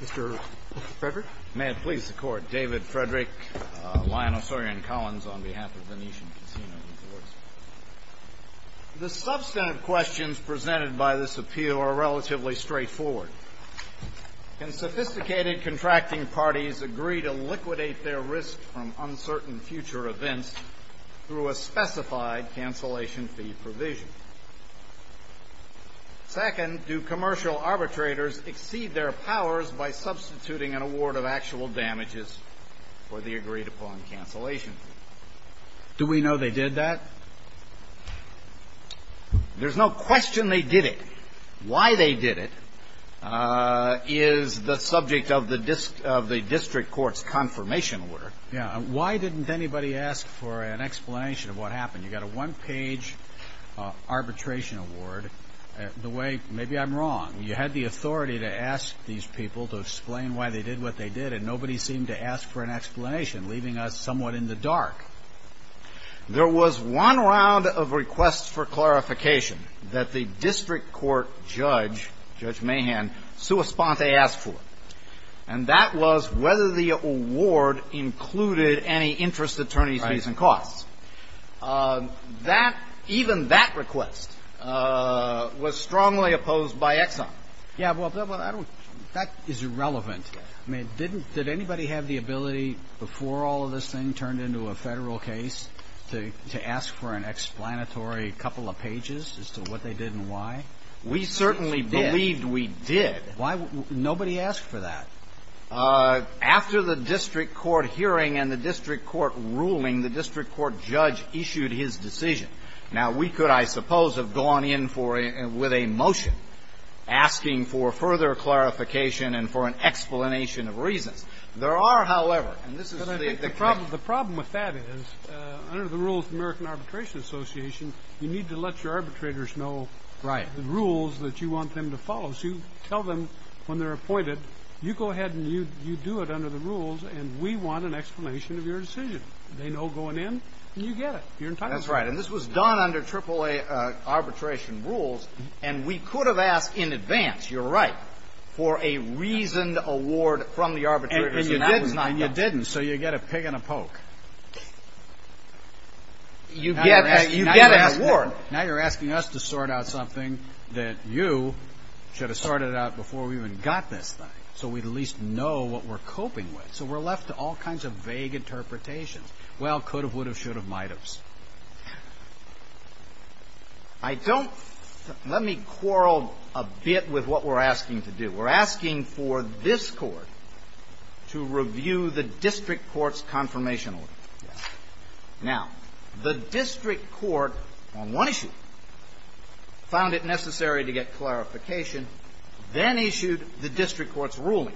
The substantive questions presented by this appeal are relatively straightforward. Can sophisticated contracting parties agree to liquidate their risk from uncertain future events through a specified cancellation fee provision? Second, do commercial arbitrators exceed their powers by substituting an award of actual damages for the agreed-upon cancellation fee? Do we know they did that? There's no question they did it. Why they did it is the subject of the district court's confirmation order. Why didn't anybody ask for an explanation of what happened? You got a one-page arbitration award. Maybe I'm wrong. You had the authority to ask these people to explain why they did what they did, and nobody seemed to ask for an explanation, leaving us somewhat in the dark. There was one round of requests for clarification that the district court judge, Judge Mahan, sua sponte asked for, and that was whether the award included any interest attorneys' fees and costs. Right. That – even that request was strongly opposed by Exxon. Yeah, well, I don't – that is irrelevant. I mean, didn't – did anybody have the ability before all of this thing turned into a Federal case to ask for an explanatory couple of pages as to what they did and why? We certainly believed we did. Why – nobody asked for that. After the district court hearing and the district court ruling, the district court judge issued his decision. Now, we could, I suppose, have gone in for a – with a motion asking for further clarification and for an explanation of reasons. There are, however – and this is the – But I think the problem – the problem with that is, under the rules of the American Arbitration Association, you need to let your arbitrators know the rules that you want them to follow. So you tell them when they're appointed, you go ahead and you do it under the rules, and we want an explanation of your decision. They know going in, and you get it. That's right, and this was done under AAA arbitration rules, and we could have asked in advance, you're right, for a reasoned award from the arbitrators. And you didn't, so you get a pig and a poke. You get an award. Now you're asking us to sort out something that you should have sorted out before we even got this thing, so we at least know what we're coping with. So we're left to all kinds of vague interpretations. Well, could have, would have, should have, might haves. I don't – let me quarrel a bit with what we're asking to do. We're asking for this Court to review the district court's confirmation order. Now, the district court on one issue found it necessary to get clarification, then issued the district court's ruling.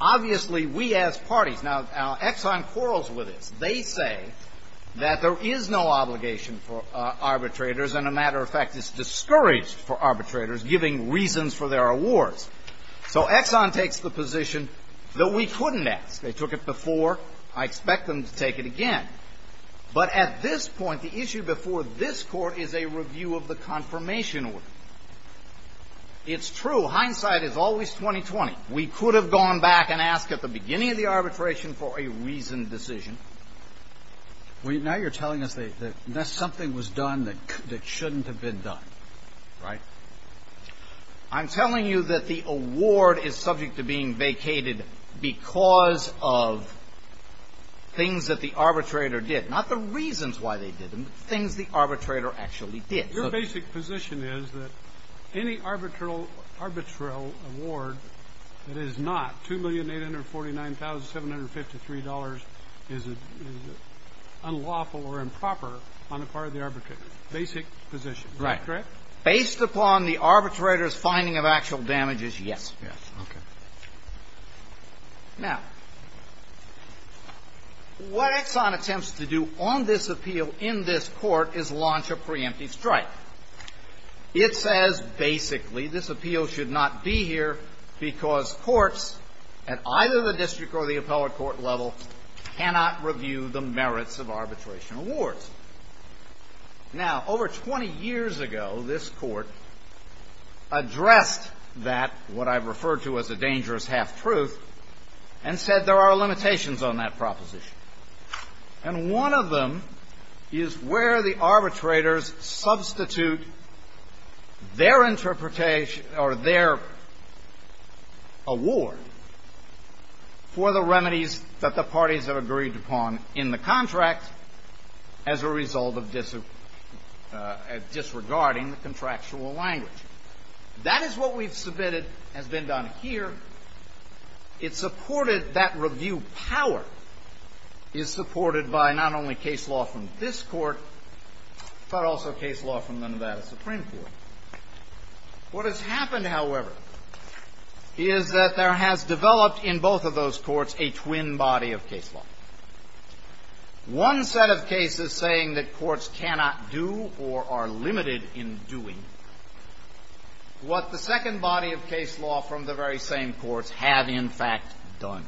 Obviously, we ask parties. Now, Exxon quarrels with this. They say that there is no obligation for arbitrators, and a matter of fact, it's discouraged for arbitrators giving reasons for their awards. So Exxon takes the position that we couldn't ask. They took it before. I expect them to take it again. But at this point, the issue before this Court is a review of the confirmation order. It's true. Hindsight is always 20-20. We could have gone back and asked at the beginning of the arbitration for a reasoned decision. Now you're telling us that something was done that shouldn't have been done, right? I'm telling you that the award is subject to being vacated because of things that the arbitrator did. Not the reasons why they did them, but things the arbitrator actually did. Your basic position is that any arbitral award that is not $2,849,753 is unlawful or improper on the part of the arbitrator. Basic position. Is that correct? Right. Based upon the arbitrator's finding of actual damages, yes. Yes. Okay. Now, what Exxon attempts to do on this appeal in this Court is launch a preemptive strike. It says basically this appeal should not be here because courts at either the district or the appellate court level cannot review the merits of arbitration awards. Now, over 20 years ago, this Court addressed that, what I've referred to as a dangerous half-truth, and said there are limitations on that proposition. And one of them is where the arbitrators substitute their interpretation or their award for the remedies that the parties have agreed upon in the contract as a result of disregarding the contractual language. That is what we've submitted has been done here. It supported that review power is supported by not only case law from this Court, but also case law from the Nevada Supreme Court. What has happened, however, is that there has developed in both of those courts a twin body of case law. One set of cases saying that courts cannot do or are limited in doing what the second body of case law from the very same courts have, in fact, done.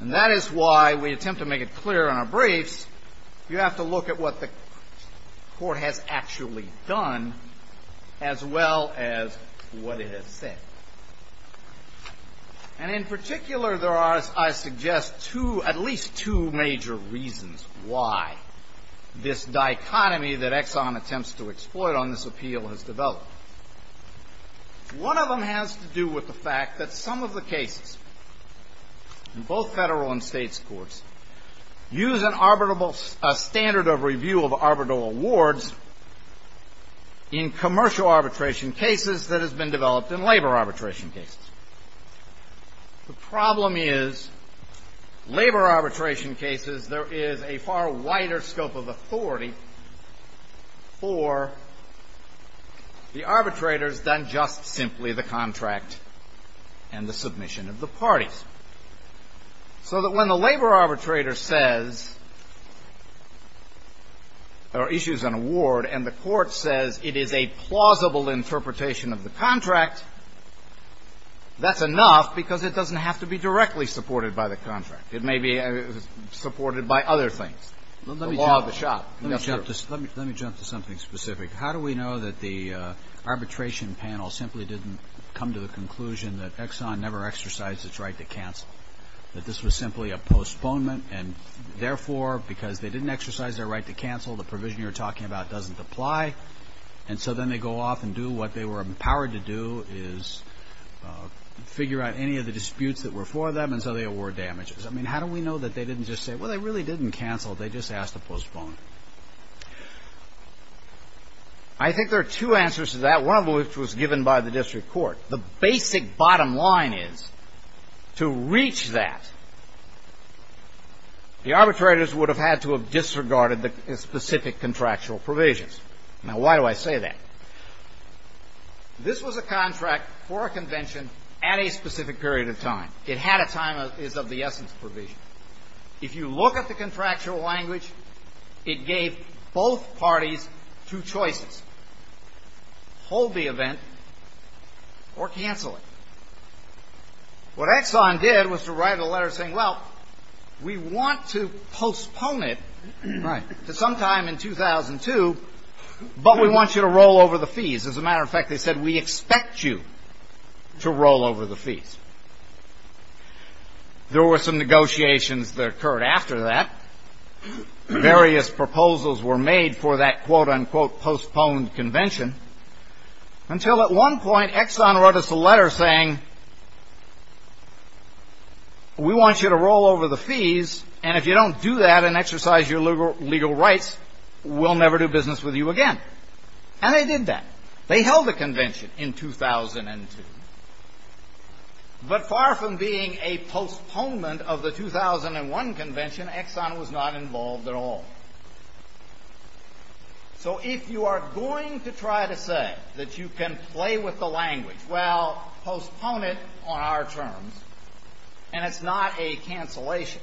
And that is why we attempt to make it clear in our briefs you have to look at what the Court has actually done as well as what it has said. And in particular, there are, I suggest, two, at least two major reasons why this dichotomy that Exxon attempts to exploit on this appeal has developed. One of them has to do with the fact that some of the cases in both Federal and State courts use an arbitrable standard of review of arbitral awards in commercial arbitration cases that has been developed in labor arbitration cases. The problem is, labor arbitration cases, there is a far wider scope of authority for the arbitrators than just simply the contract and the submission of the parties. So that when the labor arbitrator says or issues an award and the Court says it is a plausible interpretation of the contract, that's enough because it doesn't have to be directly supported by the contract. It may be supported by other things. The law of the shop, that's true. Let me jump to something specific. How do we know that the arbitration panel simply didn't come to the conclusion that Exxon never exercised its right to cancel, that this was simply a postponement and, therefore, because they didn't exercise their right to cancel, the provision you're talking about doesn't apply, and so then they go off and do what they were empowered to do, is figure out any of the disputes that were for them, and so they award damages? I mean, how do we know that they didn't just say, well, they really didn't cancel, they just asked to postpone? I think there are two answers to that, one of which was given by the District Court. The basic bottom line is, to reach that, the arbitrators would have had to have disregarded the specific contractual provisions. Now, why do I say that? This was a contract for a convention at a specific period of time. It had a time as of the essence provision. If you look at the contractual language, it gave both parties two choices, hold the event or cancel it. What Exxon did was to write a letter saying, well, we want to postpone it to sometime in 2002, but we want you to roll over the fees. As a matter of fact, they said, we expect you to roll over the fees. There were some negotiations that occurred after that. Various proposals were made for that quote, unquote, postponed convention, until at one point, Exxon wrote us a letter saying, we want you to roll over the fees, and if you don't do that and exercise your legal rights, we'll never do business with you again. And they did that. They held a convention in 2002. But far from being a postponement of the 2001 convention, Exxon was not involved at all. So if you are going to try to say that you can play with the language, well, postpone it on our terms, and it's not a cancellation.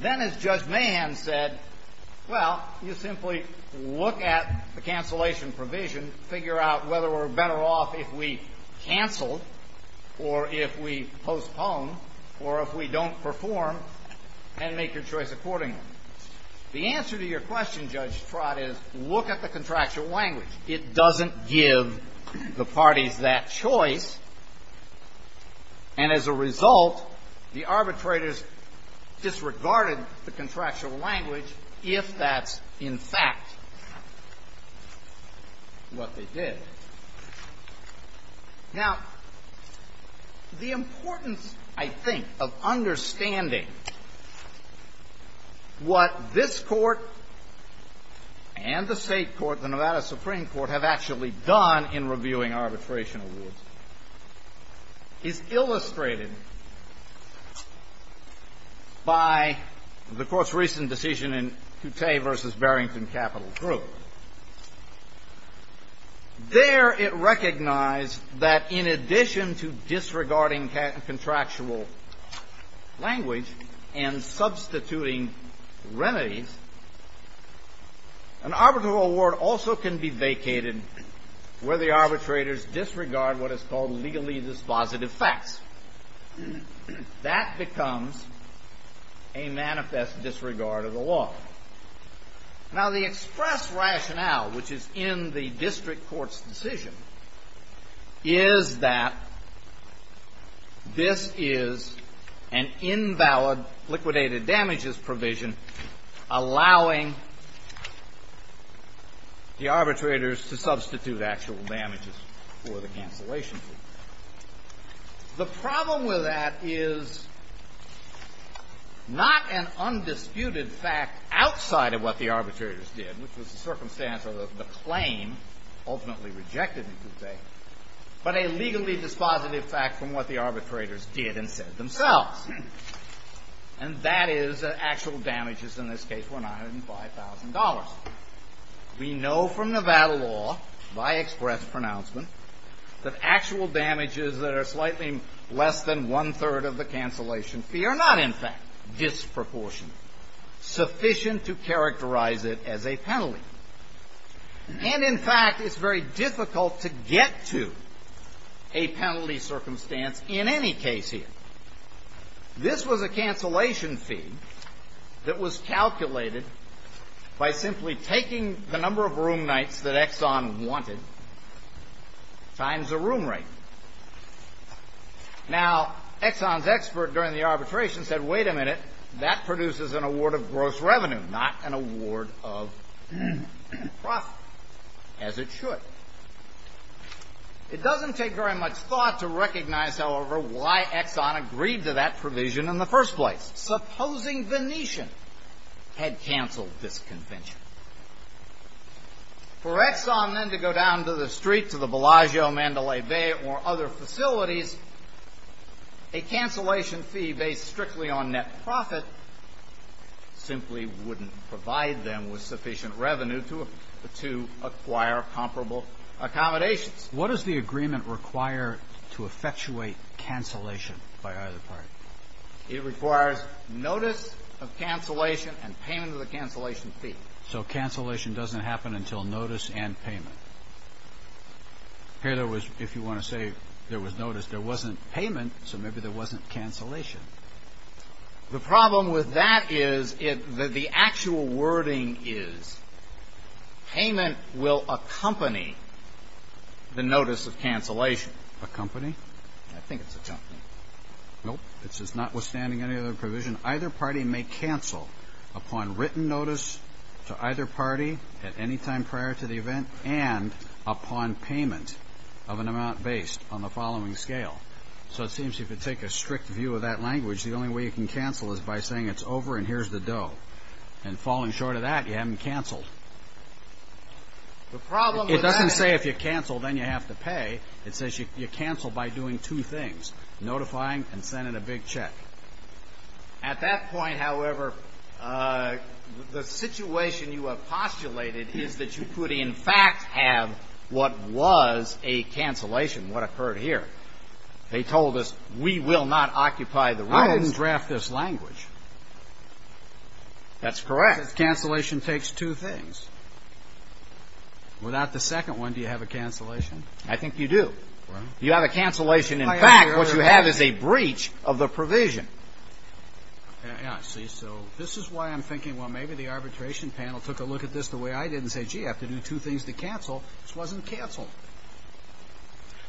Then, as Judge Mahan said, well, you simply look at the cancellation provision, figure out whether we're better off if we cancel or if we postpone or if we don't perform, and make your choice accordingly. The answer to your question, Judge Trott, is look at the contractual language. It doesn't give the parties that choice, and as a result, the arbitrators disregarded the contractual language if that's, in fact, what they did. Now, the importance, I think, of understanding what this Court and the State Court, the Nevada Supreme Court, have actually done in reviewing arbitration awards is illustrated by the Court's There, it recognized that in addition to disregarding contractual language and substituting remedies, an arbitral award also can be vacated where the arbitrators disregard what is called legally dispositive facts. That becomes a manifest disregard of the law. Now, the express rationale, which is in the district court's decision, is that this is an invalid liquidated damages provision allowing the arbitrators to substitute actual damages for the cancellation provision. The problem with that is not an undisputed fact outside of what the arbitrators did, which was the circumstance of the claim ultimately rejected, you could say, but a legally dispositive fact from what the arbitrators did and said themselves. And that is that actual damages in this case were $905,000. We know from Nevada law, by express pronouncement, that actual damages that are slightly less than one-third of the cancellation fee are not, in fact, disproportionate, sufficient to characterize it as a penalty. And, in fact, it's very difficult to get to a penalty circumstance in any case here. This was a cancellation fee that was calculated by simply taking the number of room nights that Exxon wanted times the room rate. Now, Exxon's expert during the arbitration said, wait a minute, that produces an award of gross revenue, not an award of profit, as it should. It doesn't take very much thought to recognize, however, why Exxon agreed to that provision in the first place, supposing Venetian had canceled this convention. For Exxon, then, to go down to the street, to the Bellagio, Mandalay Bay, or other facilities, a cancellation fee based strictly on net profit simply wouldn't provide them with sufficient accommodations. What does the agreement require to effectuate cancellation, by either part? It requires notice of cancellation and payment of the cancellation fee. So cancellation doesn't happen until notice and payment. Here, there was, if you want to say there was notice, there wasn't payment, so maybe there wasn't cancellation. The problem with that is that the actual wording is payment will accompany payment the notice of cancellation. Accompany? I think it's accompany. Nope. This is notwithstanding any other provision. Either party may cancel upon written notice to either party at any time prior to the event and upon payment of an amount based on the following scale. So it seems if you take a strict view of that language, the only way you can cancel is by saying it's over and here's the dough. And falling short of that, you haven't canceled. It doesn't say if you cancel, then you have to pay. It says you cancel by doing two things, notifying and sending a big check. At that point, however, the situation you have postulated is that you could in fact have what was a cancellation, what occurred here. They told us we will not occupy the rights. I wouldn't draft this language. That's correct. Cancellation takes two things. Without the second one, do you have a cancellation? I think you do. You have a cancellation. In fact, what you have is a breach of the provision. I see. So this is why I'm thinking, well, maybe the arbitration panel took a look at this the way I did and said, gee, I have to do two things to cancel. This wasn't canceled.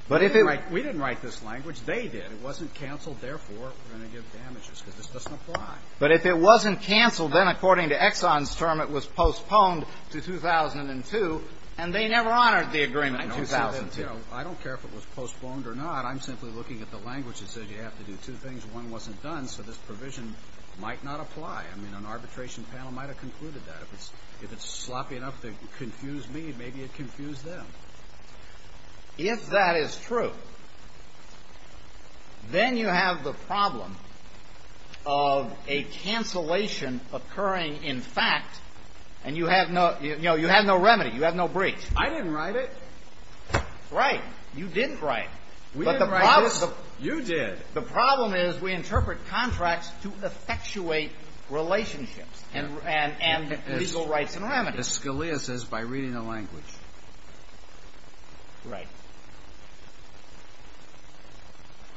We didn't write this language. They did. It wasn't canceled. Therefore, we're going to give damages because this doesn't apply. But if it wasn't canceled, then according to Exxon's term, it was postponed to 2002, and they never honored the agreement in 2002. I don't care if it was postponed or not. I'm simply looking at the language that said you have to do two things. One wasn't done, so this provision might not apply. I mean, an arbitration panel might have concluded that. If it's sloppy enough to confuse me, maybe it confused them. If that is true, then you have the problem of a cancellation occurring in fact, and you have no – you know, you have no remedy. You have no breach. I didn't write it. Right. You didn't write it. We didn't write it. You did. The problem is we interpret contracts to effectuate relationships and legal rights and remedies. As Scalia says, by reading the language. Right.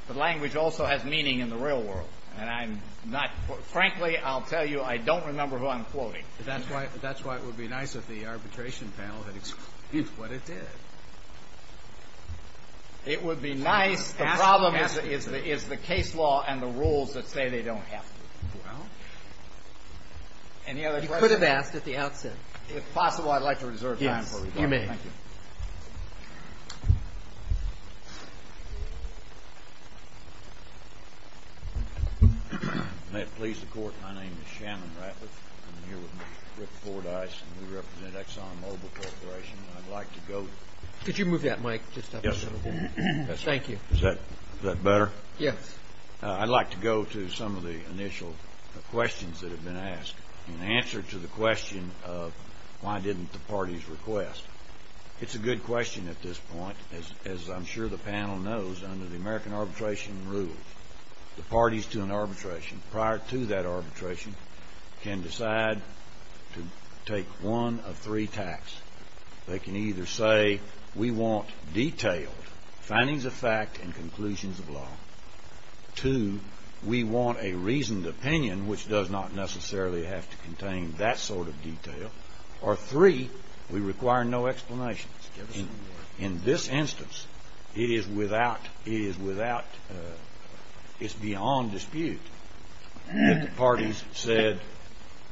The language also has meaning in the real world, and I'm not – frankly, I'll tell you, I don't remember who I'm quoting. That's why it would be nice if the arbitration panel had excluded what it did. It would be nice. The problem is the case law and the rules that say they don't have to. Well. Any other questions? I could have asked at the outset. If possible, I'd like to reserve time for a rebuttal. Yes, you may. Thank you. May it please the Court, my name is Shannon Ratliff. I'm here with Mr. Rick Fordyce, and we represent Exxon Mobil Corporation. I'd like to go to – Could you move that mic just up a little bit? Yes. Thank you. Is that better? Yes. I'd like to go to some of the initial questions that have been asked. In answer to the question of why didn't the parties request, it's a good question at this point. As I'm sure the panel knows, under the American arbitration rules, the parties to an arbitration, prior to that arbitration, can decide to take one of three tacts. They can either say, we want detailed findings of fact and conclusions of law. Two, we want a reasoned opinion, which does not necessarily have to contain that sort of detail. Or three, we require no explanations. In this instance, it is without – it is without – it's beyond dispute that the parties said,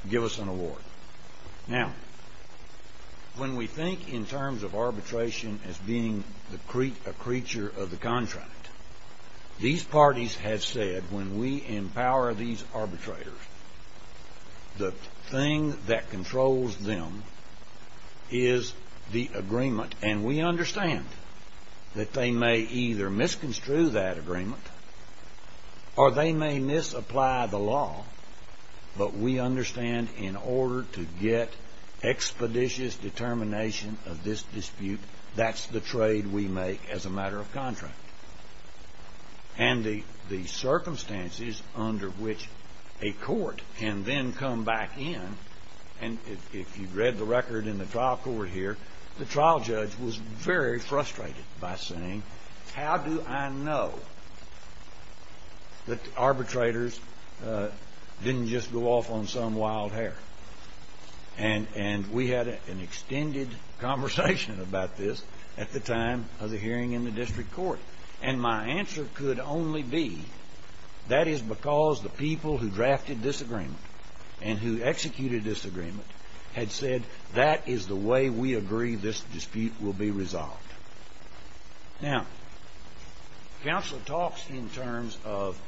give us an award. Now, when we think in terms of arbitration as being a creature of the contract, these parties have said, when we empower these arbitrators, the thing that controls them is the agreement. And we understand that they may either misconstrue that agreement or they may misapply the law. But we understand in order to get expeditious determination of this dispute, that's the trade we make as a matter of contract. And the circumstances under which a court can then come back in – and if you've read the record in the trial court here, the trial judge was very frustrated by saying, how do I know that arbitrators didn't just go off on some wild hair? And we had an extended conversation about this at the time of the hearing in the district court. And my answer could only be, that is because the people who drafted this agreement and who executed this agreement had said, that is the way we agree this dispute will be resolved. Now, counsel talks in terms of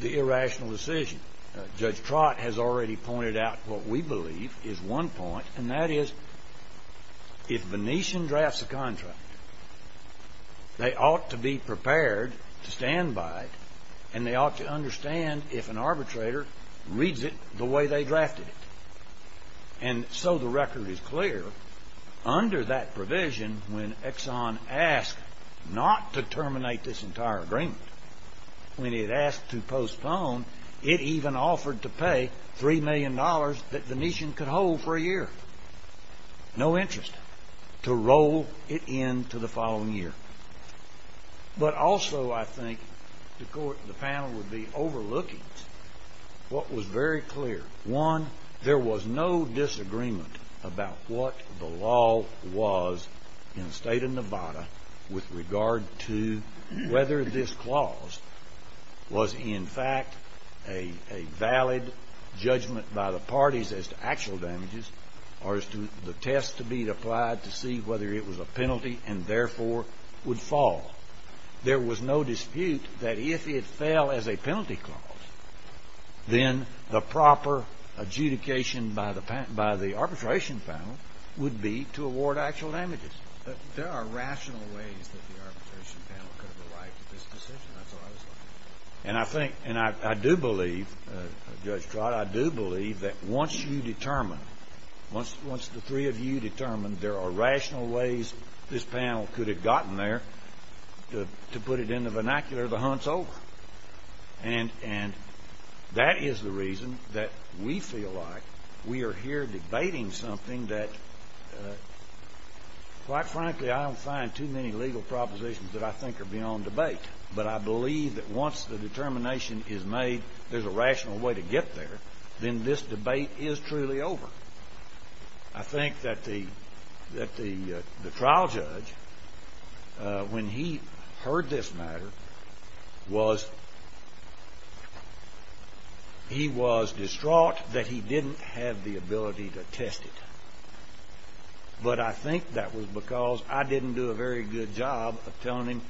the irrational decision. Judge Trott has already pointed out what we believe is one point, and that is, if Venetian drafts a contract, they ought to be prepared to stand by it, and they ought to understand if an arbitrator reads it the way they drafted it. And so the record is clear, under that provision, when Exxon asked not to terminate this entire agreement, when it asked to postpone, it even offered to pay $3 million that Venetian could hold for a year. No interest to roll it in to the following year. But also, I think, the panel would be overlooking what was very clear. One, there was no disagreement about what the law was in the state of Nevada with regard to whether this clause was, in fact, a valid judgment by the parties as to actual damages, or as to the test to be applied to see whether it was a penalty and, therefore, would fall. There was no dispute that if it fell as a penalty clause, then the proper adjudication by the arbitration panel would be to award actual damages. There are rational ways that the arbitration panel could have arrived at this decision. And I think, and I do believe, Judge Trott, I do believe that once you determine, once the three of you determine there are rational ways this panel could have gotten there, to put it in the vernacular, the hunt's over. And that is the reason that we feel like we are here debating something that, quite frankly, I don't find too many legal propositions that I think are beyond debate. But I believe that once the determination is made, there's a rational way to get there, then this debate is truly over. I think that the trial judge, when he heard this matter, was, he was distraught that he didn't have the ability to test it. But I think that was because I didn't do a very good job of telling him,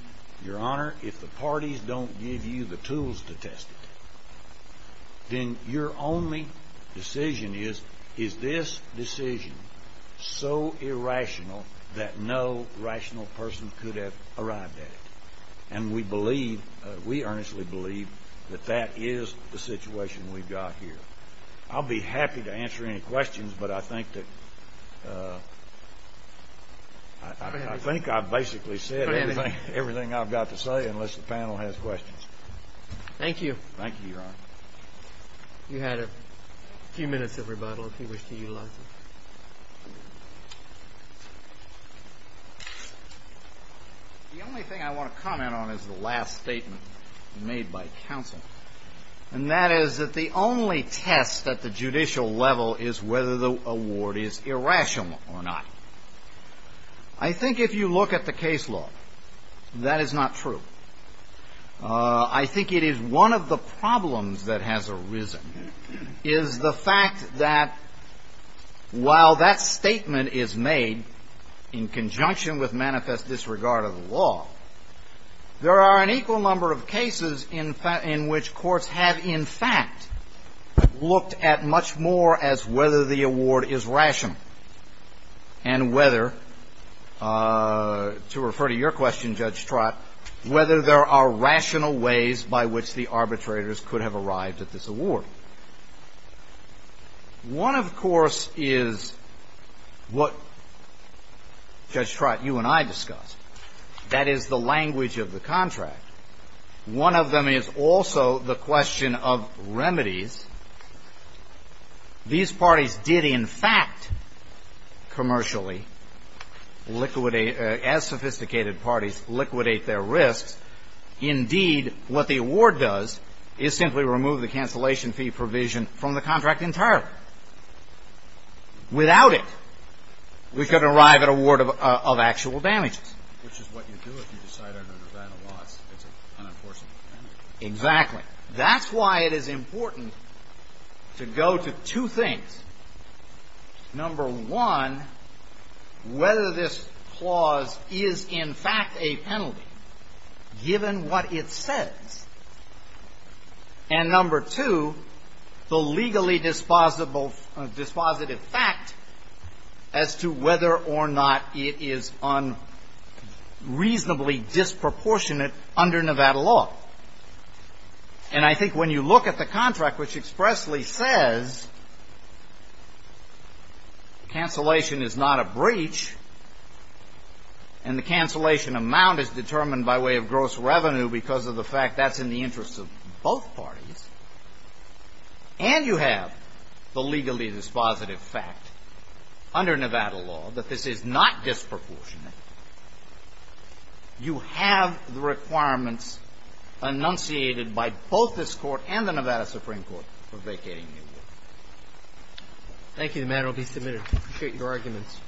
Your Honor, if the parties don't give you the tools to test it, then your only decision is, is this decision so irrational that no rational person could have arrived at it? And we believe, we earnestly believe that that is the situation we've got here. I'll be happy to answer any questions, but I think that, I think I've basically said everything I've got to say unless the panel has questions. Thank you. Thank you, Your Honor. You had a few minutes of rebuttal if you wish to utilize it. The only thing I want to comment on is the last statement made by counsel, and that is that the only test at the judicial level is whether the award is irrational or not. I think if you look at the case law, that is not true. I think it is one of the problems that has arisen, is the fact that while that statement is made in conjunction with manifest disregard of the law, there are an equal number of cases in which courts have in fact looked at much more as whether the award is rational and whether, to refer to your question, Judge Trott, whether there are rational ways by which the arbitrators could have arrived at this award. One, of course, is what Judge Trott, you and I discussed. That is the language of the contract. One of them is also the question of remedies. These parties did, in fact, commercially, as sophisticated parties, liquidate their risks. Indeed, what the award does is simply remove the cancellation fee provision from the contract entirely. Without it, we could arrive at a ward of actual damages. Which is what you do if you decide under the event of loss it's an unenforceable penalty. Exactly. That's why it is important to go to two things. Number one, whether this clause is in fact a penalty, given what it says. And number two, the legally dispositive fact as to whether or not it is on reasonably disproportionate under Nevada law. And I think when you look at the contract, which expressly says cancellation is not a breach, and the cancellation amount is determined by way of gross revenue because of the fact that's in the interest of both parties, and you have the legally dispositive fact under Nevada law that this is not disproportionate, you have the requirements enunciated by both this Court and the Nevada Supreme Court for vacating New York. Thank you. The matter will be submitted. I appreciate your arguments.